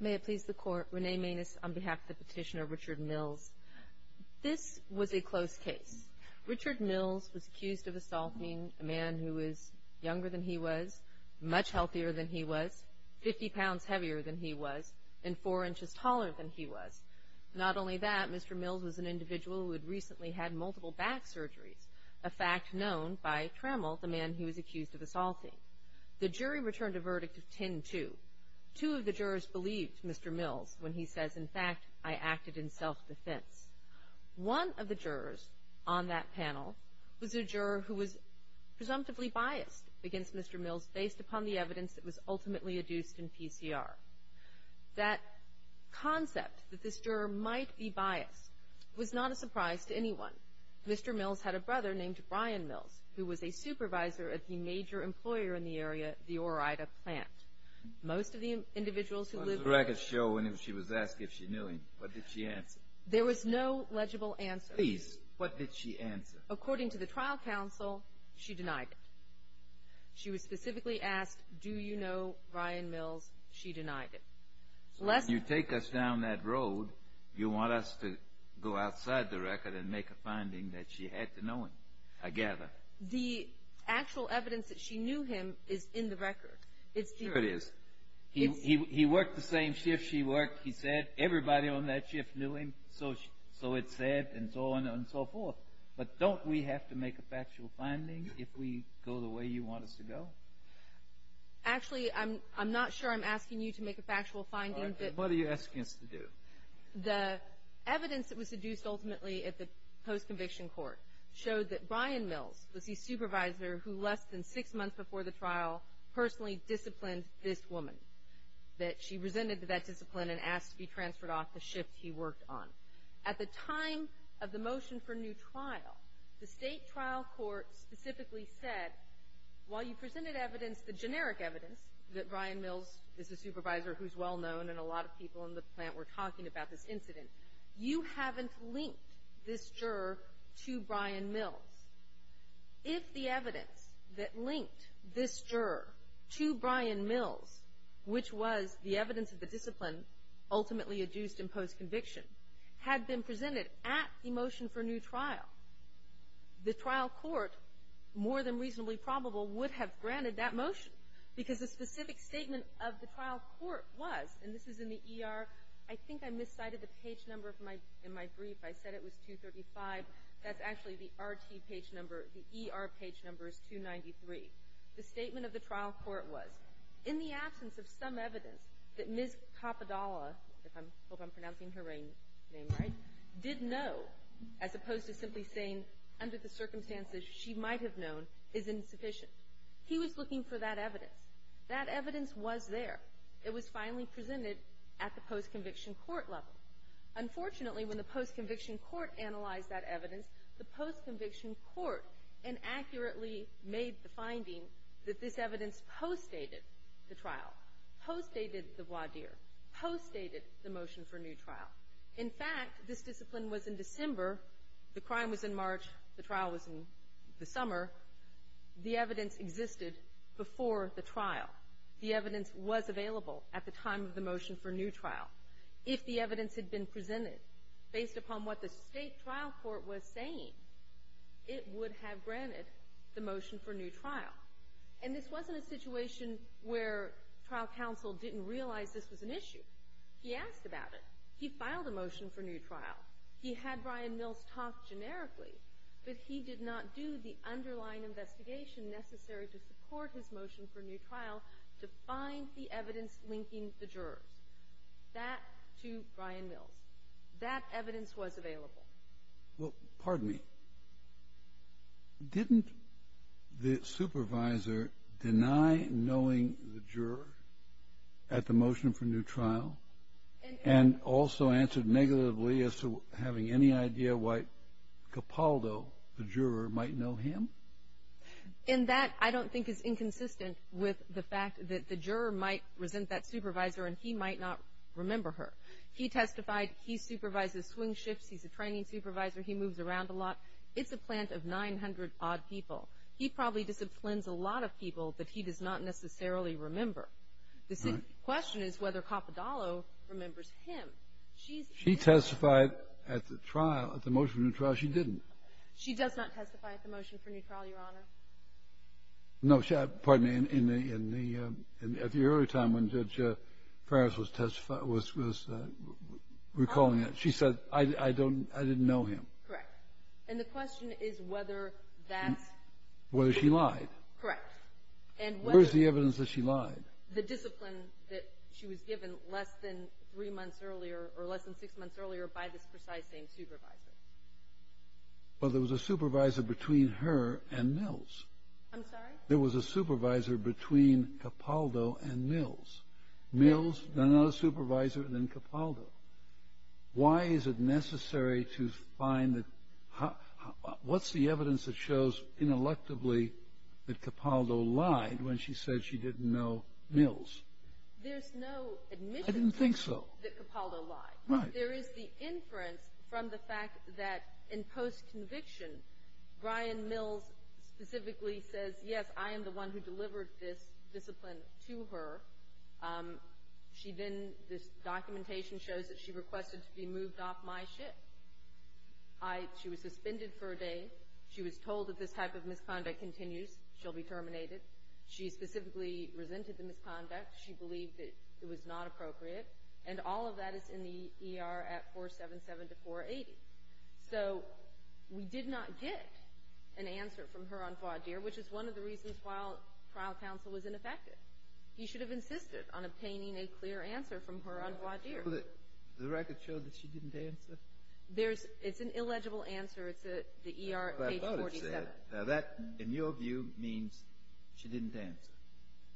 May it please the Court, Renee Maness on behalf of the petitioner Richard Mills. This was a close case. Richard Mills was accused of assaulting a man who was younger than he was, much healthier than he was, 50 pounds heavier than he was, and four inches taller than he was. Not only that, Mr. Mills was an individual who had recently had multiple back surgeries, a fact known by Trammell, the man he was accused of assaulting. The jury returned a verdict of 10-2. Two of the jurors believed Mr. Mills when he says, in fact, I acted in self-defense. One of the jurors on that panel was a juror who was presumptively biased against Mr. Mills based upon the evidence that was ultimately adduced in PCR. That concept that this juror might be biased was not a surprise to anyone. Mr. Mills had a brother named Brian Mills who was a supervisor at the major employer in the area, the Ore-Ida plant. Most of the individuals who lived there There was no legible answer. Please, what did she answer? According to the trial counsel, she denied it. She was specifically asked, do you know Brian Mills? She denied it. So when you take us down that road, you want us to go outside the record and make a finding that she had to know him. I gather. The actual evidence that she knew him is in the record. Sure it is. He worked the same shift she worked, he said. Everybody on that shift knew him, so it's said, and so on and so forth. But don't we have to make a factual finding if we go the way you want us to go? Actually, I'm not sure I'm asking you to make a factual finding. What are you asking us to do? The evidence that was seduced ultimately at the post-conviction court showed that Brian Mills was the supervisor who, less than six months before the trial, personally disciplined this woman, that she resented that discipline and asked to be transferred off the shift he worked on. At the time of the motion for new trial, the state trial court specifically said, while you presented evidence, the generic evidence, that Brian Mills is a supervisor who's well-known and a lot of people in the plant were talking about this incident, you haven't linked this juror to Brian Mills. If the evidence that linked this juror to Brian Mills, which was the evidence of the discipline ultimately adduced in post-conviction, had been presented at the motion for new trial, the trial court, more than reasonably probable, would have granted that motion because the specific statement of the trial court was, and this is in the ER, I think I miscited the page number in my brief. I said it was 235. That's actually the RT page number. The ER page number is 293. The statement of the trial court was, in the absence of some evidence that Ms. Capodalla, I hope I'm pronouncing her name right, did know, as opposed to simply saying, under the circumstances she might have known, is insufficient. He was looking for that evidence. That evidence was there. It was finally presented at the post-conviction court level. Unfortunately, when the post-conviction court analyzed that evidence, the post-conviction court inaccurately made the finding that this evidence postdated the trial, postdated the voir dire, postdated the motion for new trial. In fact, this discipline was in December. The crime was in March. The trial was in the summer. The evidence existed before the trial. The evidence was available at the time of the motion for new trial. If the evidence had been presented based upon what the state trial court was saying, it would have granted the motion for new trial. And this wasn't a situation where trial counsel didn't realize this was an issue. He asked about it. He filed a motion for new trial. He had Brian Mills talk generically. But he did not do the underlying investigation necessary to support his motion for new trial to find the evidence linking the jurors. That, to Brian Mills. That evidence was available. Well, pardon me. Didn't the supervisor deny knowing the juror at the motion for new trial and also answered negatively as to having any idea why Capaldo, the juror, might know him? In that, I don't think it's inconsistent with the fact that the juror might resent that supervisor and he might not remember her. He testified he supervises swing shifts, he's a training supervisor, he moves around a lot. It's a plant of 900-odd people. He probably disciplines a lot of people that he does not necessarily remember. The question is whether Capaldo remembers him. She testified at the trial, at the motion for new trial, she didn't. She does not testify at the motion for new trial, Your Honor. No, pardon me. At the early time when Judge Farris was recalling it, she said, I didn't know him. Correct. And the question is whether that's the case. Whether she lied. Correct. Where is the evidence that she lied? The discipline that she was given less than three months earlier or less than six months earlier by this precise same supervisor. Well, there was a supervisor between her and Mills. I'm sorry? There was a supervisor between Capaldo and Mills. Mills, another supervisor, and then Capaldo. Why is it necessary to find the – what's the evidence that shows, ineluctably, that Capaldo lied when she said she didn't know Mills? There's no admission. I didn't think so. That Capaldo lied. Right. There is the inference from the fact that in post-conviction, Brian Mills specifically says, yes, I am the one who delivered this discipline to her. She then – this documentation shows that she requested to be moved off my ship. I – she was suspended for a day. She was told that this type of misconduct continues. She'll be terminated. She specifically resented the misconduct. She believed that it was not appropriate. And all of that is in the ER at 477 to 480. So we did not get an answer from her on voir dire, which is one of the reasons why trial counsel was ineffective. He should have insisted on obtaining a clear answer from her on voir dire. The record showed that she didn't answer? There's – it's an illegible answer. It's the ER at page 47. Now, that, in your view, means she didn't answer.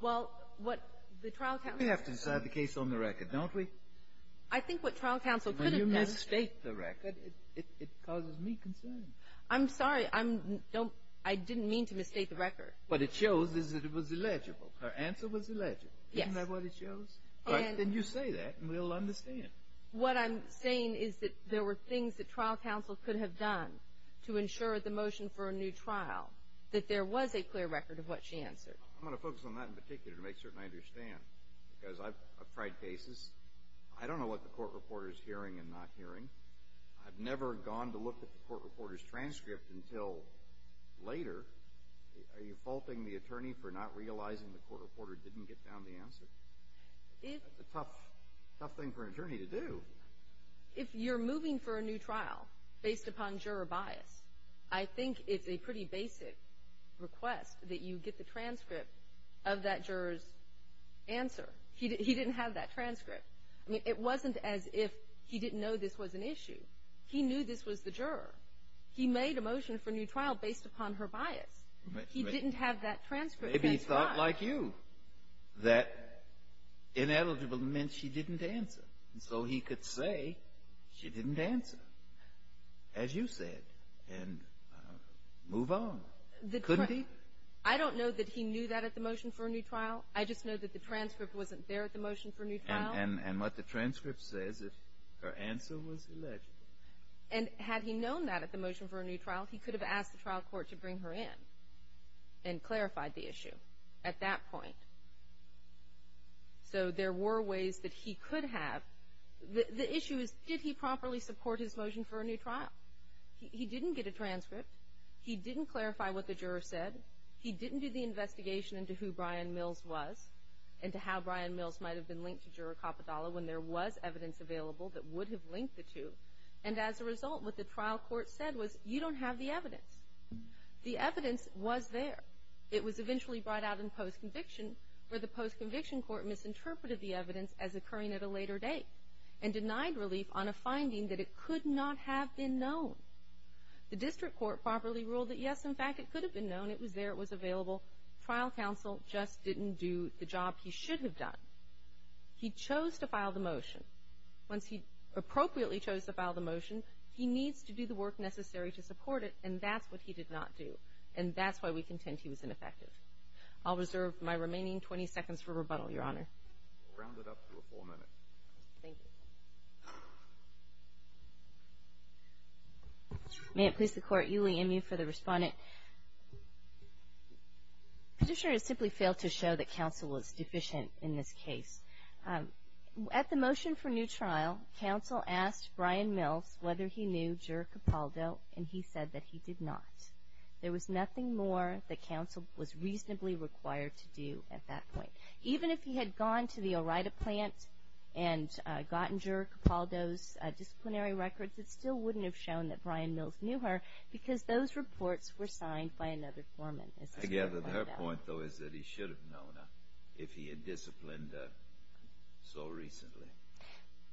Well, what the trial counsel – We have to decide the case on the record, don't we? I think what trial counsel could have done – When you misstate the record, it causes me concern. I'm sorry. I'm – don't – I didn't mean to misstate the record. What it shows is that it was illegible. Her answer was illegible. Yes. Isn't that what it shows? And you say that, and we'll understand. What I'm saying is that there were things that trial counsel could have done to ensure the motion for a new trial, that there was a clear record of what she answered. I'm going to focus on that in particular to make certain I understand because I've tried cases. I don't know what the court reporter is hearing and not hearing. I've never gone to look at the court reporter's transcript until later. Are you faulting the attorney for not realizing the court reporter didn't get down the answer? That's a tough thing for an attorney to do. If you're moving for a new trial based upon juror bias, I think it's a pretty basic request that you get the transcript of that juror's answer. He didn't have that transcript. I mean, it wasn't as if he didn't know this was an issue. He knew this was the juror. He made a motion for a new trial based upon her bias. He didn't have that transcript. Maybe he thought like you that ineligible meant she didn't answer, and so he could say she didn't answer, as you said, and move on. Couldn't he? I don't know that he knew that at the motion for a new trial. I just know that the transcript wasn't there at the motion for a new trial. And what the transcript says is her answer was eligible. And had he known that at the motion for a new trial, he could have asked the trial court to bring her in and clarified the issue at that point. So there were ways that he could have. The issue is did he properly support his motion for a new trial? He didn't get a transcript. He didn't clarify what the juror said. He didn't do the investigation into who Brian Mills was and to how Brian Mills might have been linked to Juror Capodalla when there was evidence available that would have linked the two. And as a result, what the trial court said was, you don't have the evidence. The evidence was there. It was eventually brought out in post-conviction, where the post-conviction court misinterpreted the evidence as occurring at a later date and denied relief on a finding that it could not have been known. The district court properly ruled that, yes, in fact, it could have been known. It was there. It was available. Trial counsel just didn't do the job he should have done. He chose to file the motion. Once he appropriately chose to file the motion, he needs to do the work necessary to support it, and that's what he did not do, and that's why we contend he was ineffective. I'll reserve my remaining 20 seconds for rebuttal, Your Honor. We'll round it up to a four-minute. Thank you. May it please the Court, Uli Emue for the respondent. The petitioner has simply failed to show that counsel was deficient in this case. At the motion for new trial, counsel asked Brian Mills whether he knew Juror Capaldo, and he said that he did not. There was nothing more that counsel was reasonably required to do at that point. Even if he had gone to the Orita plant and gotten Juror Capaldo's disciplinary records, it still wouldn't have shown that Brian Mills knew her because those reports were signed by another foreman. I gather her point, though, is that he should have known her if he had disciplined her so recently.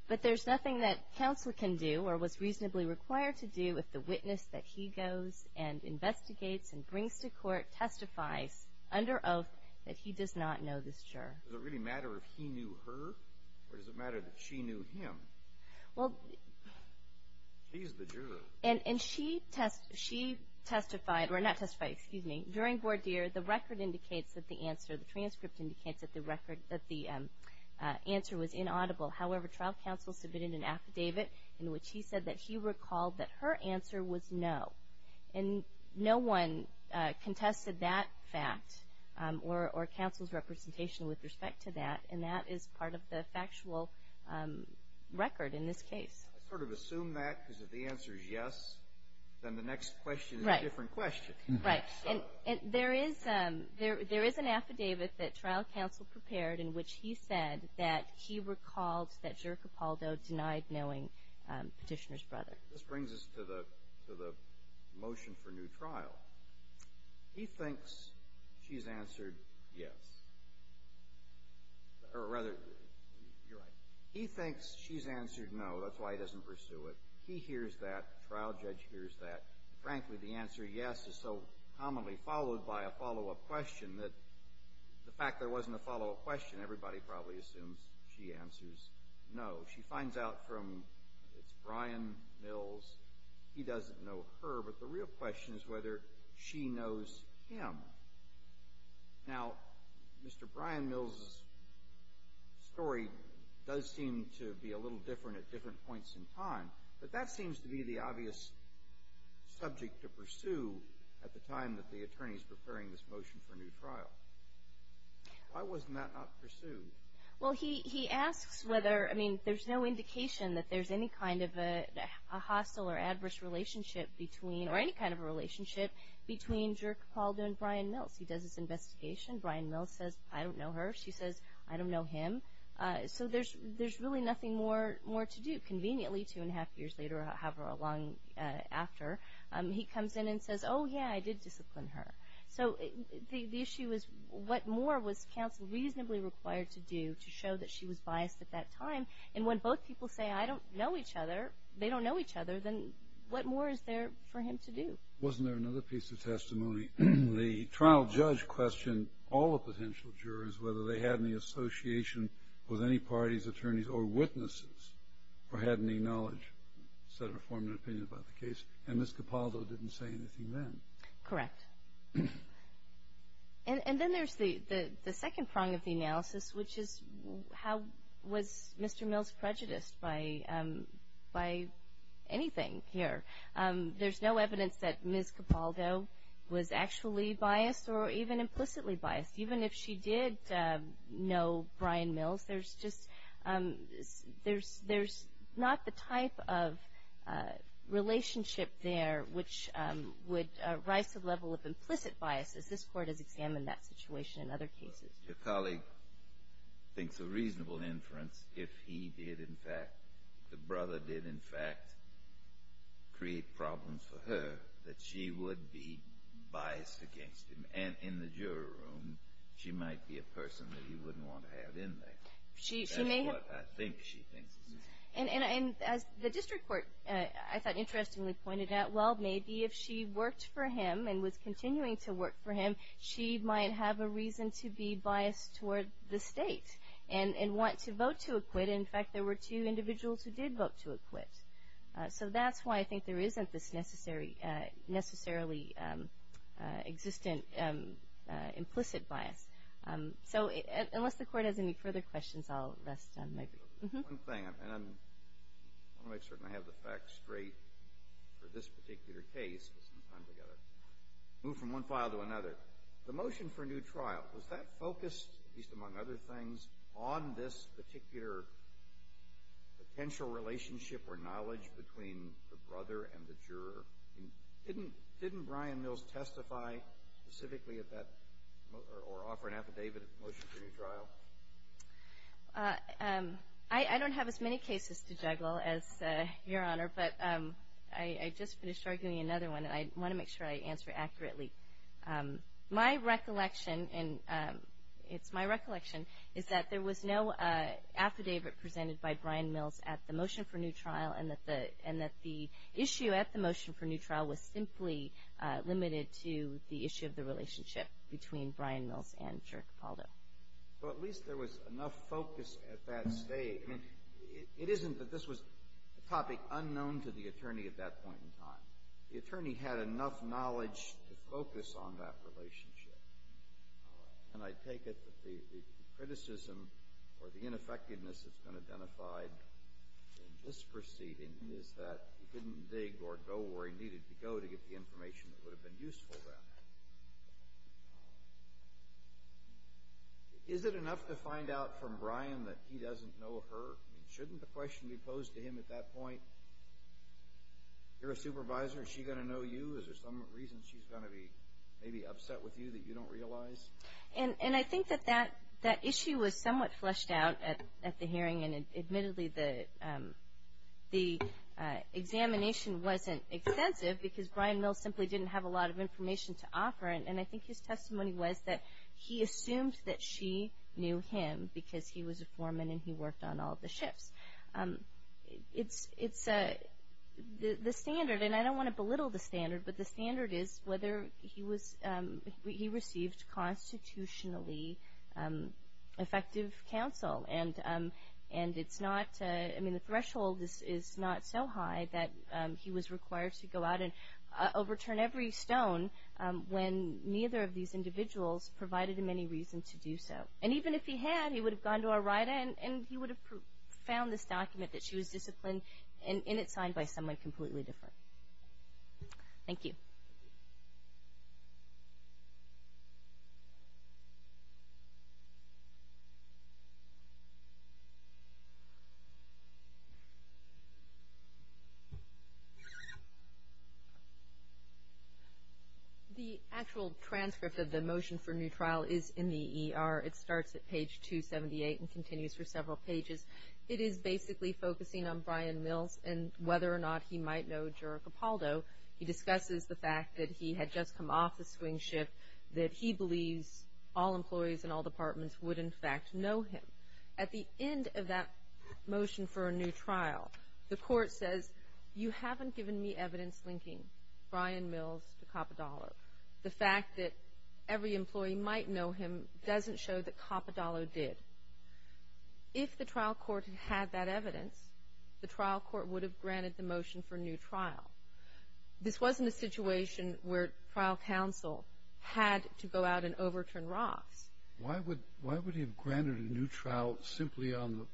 But there's nothing that counsel can do or was reasonably required to do if the witness that he goes and investigates and brings to court testifies under oath that he does not know this juror. Does it really matter if he knew her, or does it matter that she knew him? She's the juror. And she testified, or not testified, excuse me, during voir dire, the record indicates that the answer, the transcript indicates that the answer was inaudible. However, trial counsel submitted an affidavit in which he said that he recalled that her answer was no. And no one contested that fact or counsel's representation with respect to that, and that is part of the factual record in this case. I sort of assume that because if the answer is yes, then the next question is a different question. Right. And there is an affidavit that trial counsel prepared in which he said that he recalled that Juror Capaldo denied knowing Petitioner's brother. This brings us to the motion for new trial. He thinks she's answered yes. Or rather, you're right. He thinks she's answered no. That's why he doesn't pursue it. He hears that. The trial judge hears that. Frankly, the answer yes is so commonly followed by a follow-up question that the fact there wasn't a follow-up question, everybody probably assumes she answers no. She finds out from Brian Mills he doesn't know her, but the real question is whether she knows him. Now, Mr. Brian Mills' story does seem to be a little different at different points in time, but that seems to be the obvious subject to pursue at the time that the attorney is preparing this motion for new trial. Why wasn't that not pursued? Well, he asks whether, I mean, there's no indication that there's any kind of a hostile or adverse relationship between or any kind of a relationship between Juror Capaldo and Brian Mills. He does his investigation. Brian Mills says, I don't know her. She says, I don't know him. So there's really nothing more to do. Conveniently, two and a half years later, however long after, he comes in and says, oh, yeah, I did discipline her. So the issue is what more was counsel reasonably required to do to show that she was biased at that time? And when both people say, I don't know each other, they don't know each other, then what more is there for him to do? Wasn't there another piece of testimony? The trial judge questioned all the potential jurors, whether they had any association with any parties, attorneys, or witnesses, or had any knowledge, said or formed an opinion about the case, and Ms. Capaldo didn't say anything then. Correct. And then there's the second prong of the analysis, which is how was Mr. Mills prejudiced by anything here? There's no evidence that Ms. Capaldo was actually biased or even implicitly biased. Even if she did know Brian Mills, there's not the type of relationship there which would rise to the level of implicit bias, as this Court has examined that situation in other cases. Your colleague thinks a reasonable inference, if he did, in fact, if the brother did, in fact, create problems for her, that she would be biased against him. And in the juror room, she might be a person that he wouldn't want to have in there. That's what I think she thinks. And as the district court, I thought, interestingly pointed out, well, maybe if she worked for him and was continuing to work for him, she might have a reason to be biased toward the state and want to vote to acquit. In fact, there were two individuals who did vote to acquit. So that's why I think there isn't this necessarily existent implicit bias. So unless the Court has any further questions, I'll rest on my break. One thing, and I want to make certain I have the facts straight for this particular case, because sometimes we've got to move from one file to another. But the motion for new trial, was that focused, at least among other things, on this particular potential relationship or knowledge between the brother and the juror? Didn't Brian Mills testify specifically at that or offer an affidavit at the motion for new trial? I don't have as many cases to juggle as Your Honor, but I just finished arguing another one, and I want to make sure I answer accurately. My recollection, and it's my recollection, is that there was no affidavit presented by Brian Mills at the motion for new trial, and that the issue at the motion for new trial was simply limited to the issue of the relationship between Brian Mills and Juror Capaldo. Well, at least there was enough focus at that stage. I mean, it isn't that this was a topic unknown to the attorney at that point in time. The attorney had enough knowledge to focus on that relationship, and I take it that the criticism or the ineffectiveness that's been identified in this proceeding is that he didn't dig or go where he needed to go to get the information that would have been useful then. Is it enough to find out from Brian that he doesn't know her? I mean, shouldn't the question be posed to him at that point? You're a supervisor. Is she going to know you? Is there some reason she's going to be maybe upset with you that you don't realize? And I think that that issue was somewhat fleshed out at the hearing, and admittedly the examination wasn't extensive because Brian Mills simply didn't have a lot of information to offer, and I think his testimony was that he assumed that she knew him because he was a foreman and he worked on all the shifts. It's the standard, and I don't want to belittle the standard, but the standard is whether he received constitutionally effective counsel, and it's not, I mean, the threshold is not so high that he was required to go out and overturn every stone when neither of these individuals provided him any reason to do so. And even if he had, he would have gone to a writer and he would have found this document that she was disciplined in, and it's signed by someone completely different. Thank you. Thank you. The actual transcript of the motion for new trial is in the ER. It starts at page 278 and continues for several pages. It is basically focusing on Brian Mills and whether or not he might know Jura Capaldo. He discusses the fact that he had just come off the swing shift, that he believes all employees in all departments would, in fact, know him. At the end of that motion for a new trial, the court says, you haven't given me evidence linking Brian Mills to Capadalo. The fact that every employee might know him doesn't show that Capadalo did. If the trial court had that evidence, the trial court would have granted the motion for a new trial. This wasn't a situation where trial counsel had to go out and overturn Roths. Why would he have granted a new trial simply on the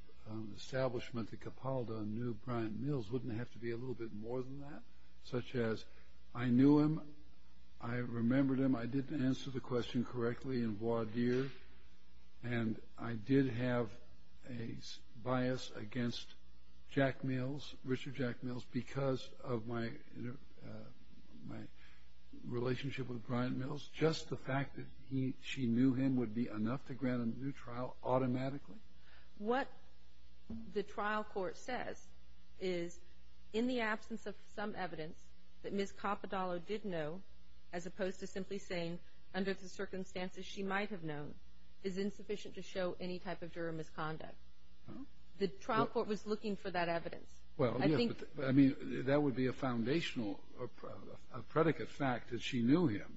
establishment that Capaldo knew Brian Mills? Wouldn't it have to be a little bit more than that? Such as, I knew him, I remembered him, I did answer the question correctly in voir dire, and I did have a bias against Jack Mills, Richard Jack Mills, because of my relationship with Brian Mills. Just the fact that she knew him would be enough to grant him a new trial automatically? What the trial court says is, in the absence of some evidence that Ms. Capadalo did know, as opposed to simply saying, under the circumstances she might have known, is insufficient to show any type of juror misconduct. The trial court was looking for that evidence. I mean, that would be a foundational, a predicate fact that she knew him,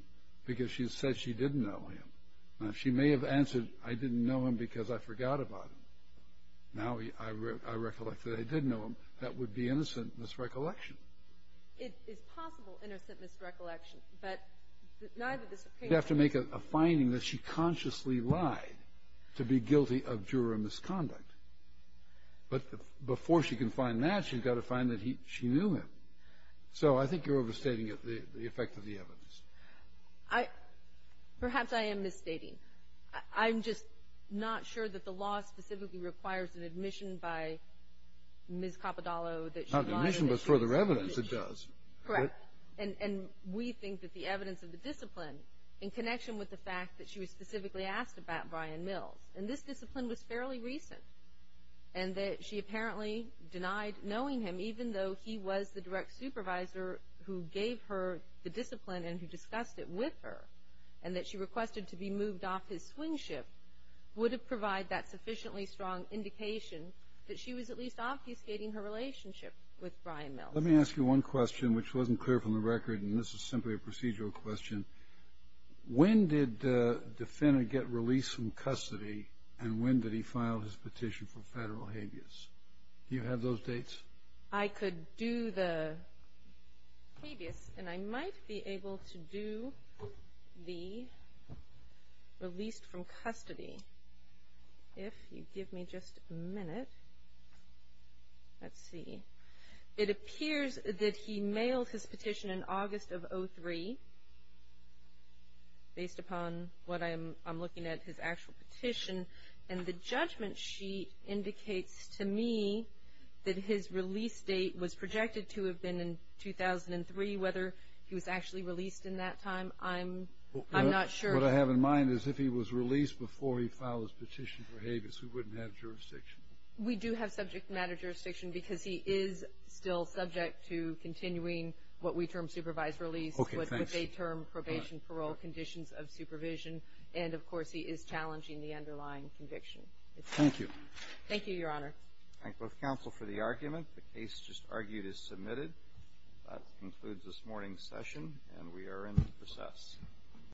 because she said she didn't know him. Now, she may have answered, I didn't know him because I forgot about him. Now I recollect that I did know him. That would be innocent misrecollection. It is possible innocent misrecollection, but neither the Supreme Court. You have to make a finding that she consciously lied to be guilty of juror misconduct. But before she can find that, she's got to find that she knew him. So I think you're overstating the effect of the evidence. Perhaps I am misstating. I'm just not sure that the law specifically requires an admission by Ms. Capadalo that she lied. It's not an admission, but further evidence it does. Correct. And we think that the evidence of the discipline, in connection with the fact that she was specifically asked about Brian Mills, and this discipline was fairly recent, and that she apparently denied knowing him even though he was the direct supervisor who gave her the discipline and who discussed it with her, and that she requested to be moved off his swing ship, would have provided that sufficiently strong indication that she was at least obfuscating her relationship with Brian Mills. Let me ask you one question, which wasn't clear from the record, and this is simply a procedural question. When did the defendant get released from custody, and when did he file his petition for federal habeas? Do you have those dates? I could do the habeas, and I might be able to do the released from custody. If you give me just a minute. Let's see. It appears that he mailed his petition in August of 2003, based upon what I'm looking at, his actual petition, and the judgment sheet indicates to me that his release date was projected to have been in 2003. Whether he was actually released in that time, I'm not sure. What I have in mind is if he was released before he filed his petition for habeas, we wouldn't have jurisdiction. We do have subject matter jurisdiction, because he is still subject to continuing what we term supervised release, which is a term probation parole conditions of supervision, and, of course, he is challenging the underlying conviction. Thank you. Thank you, Your Honor. Thank both counsel for the argument. The case just argued is submitted. That concludes this morning's session, and we are in the process.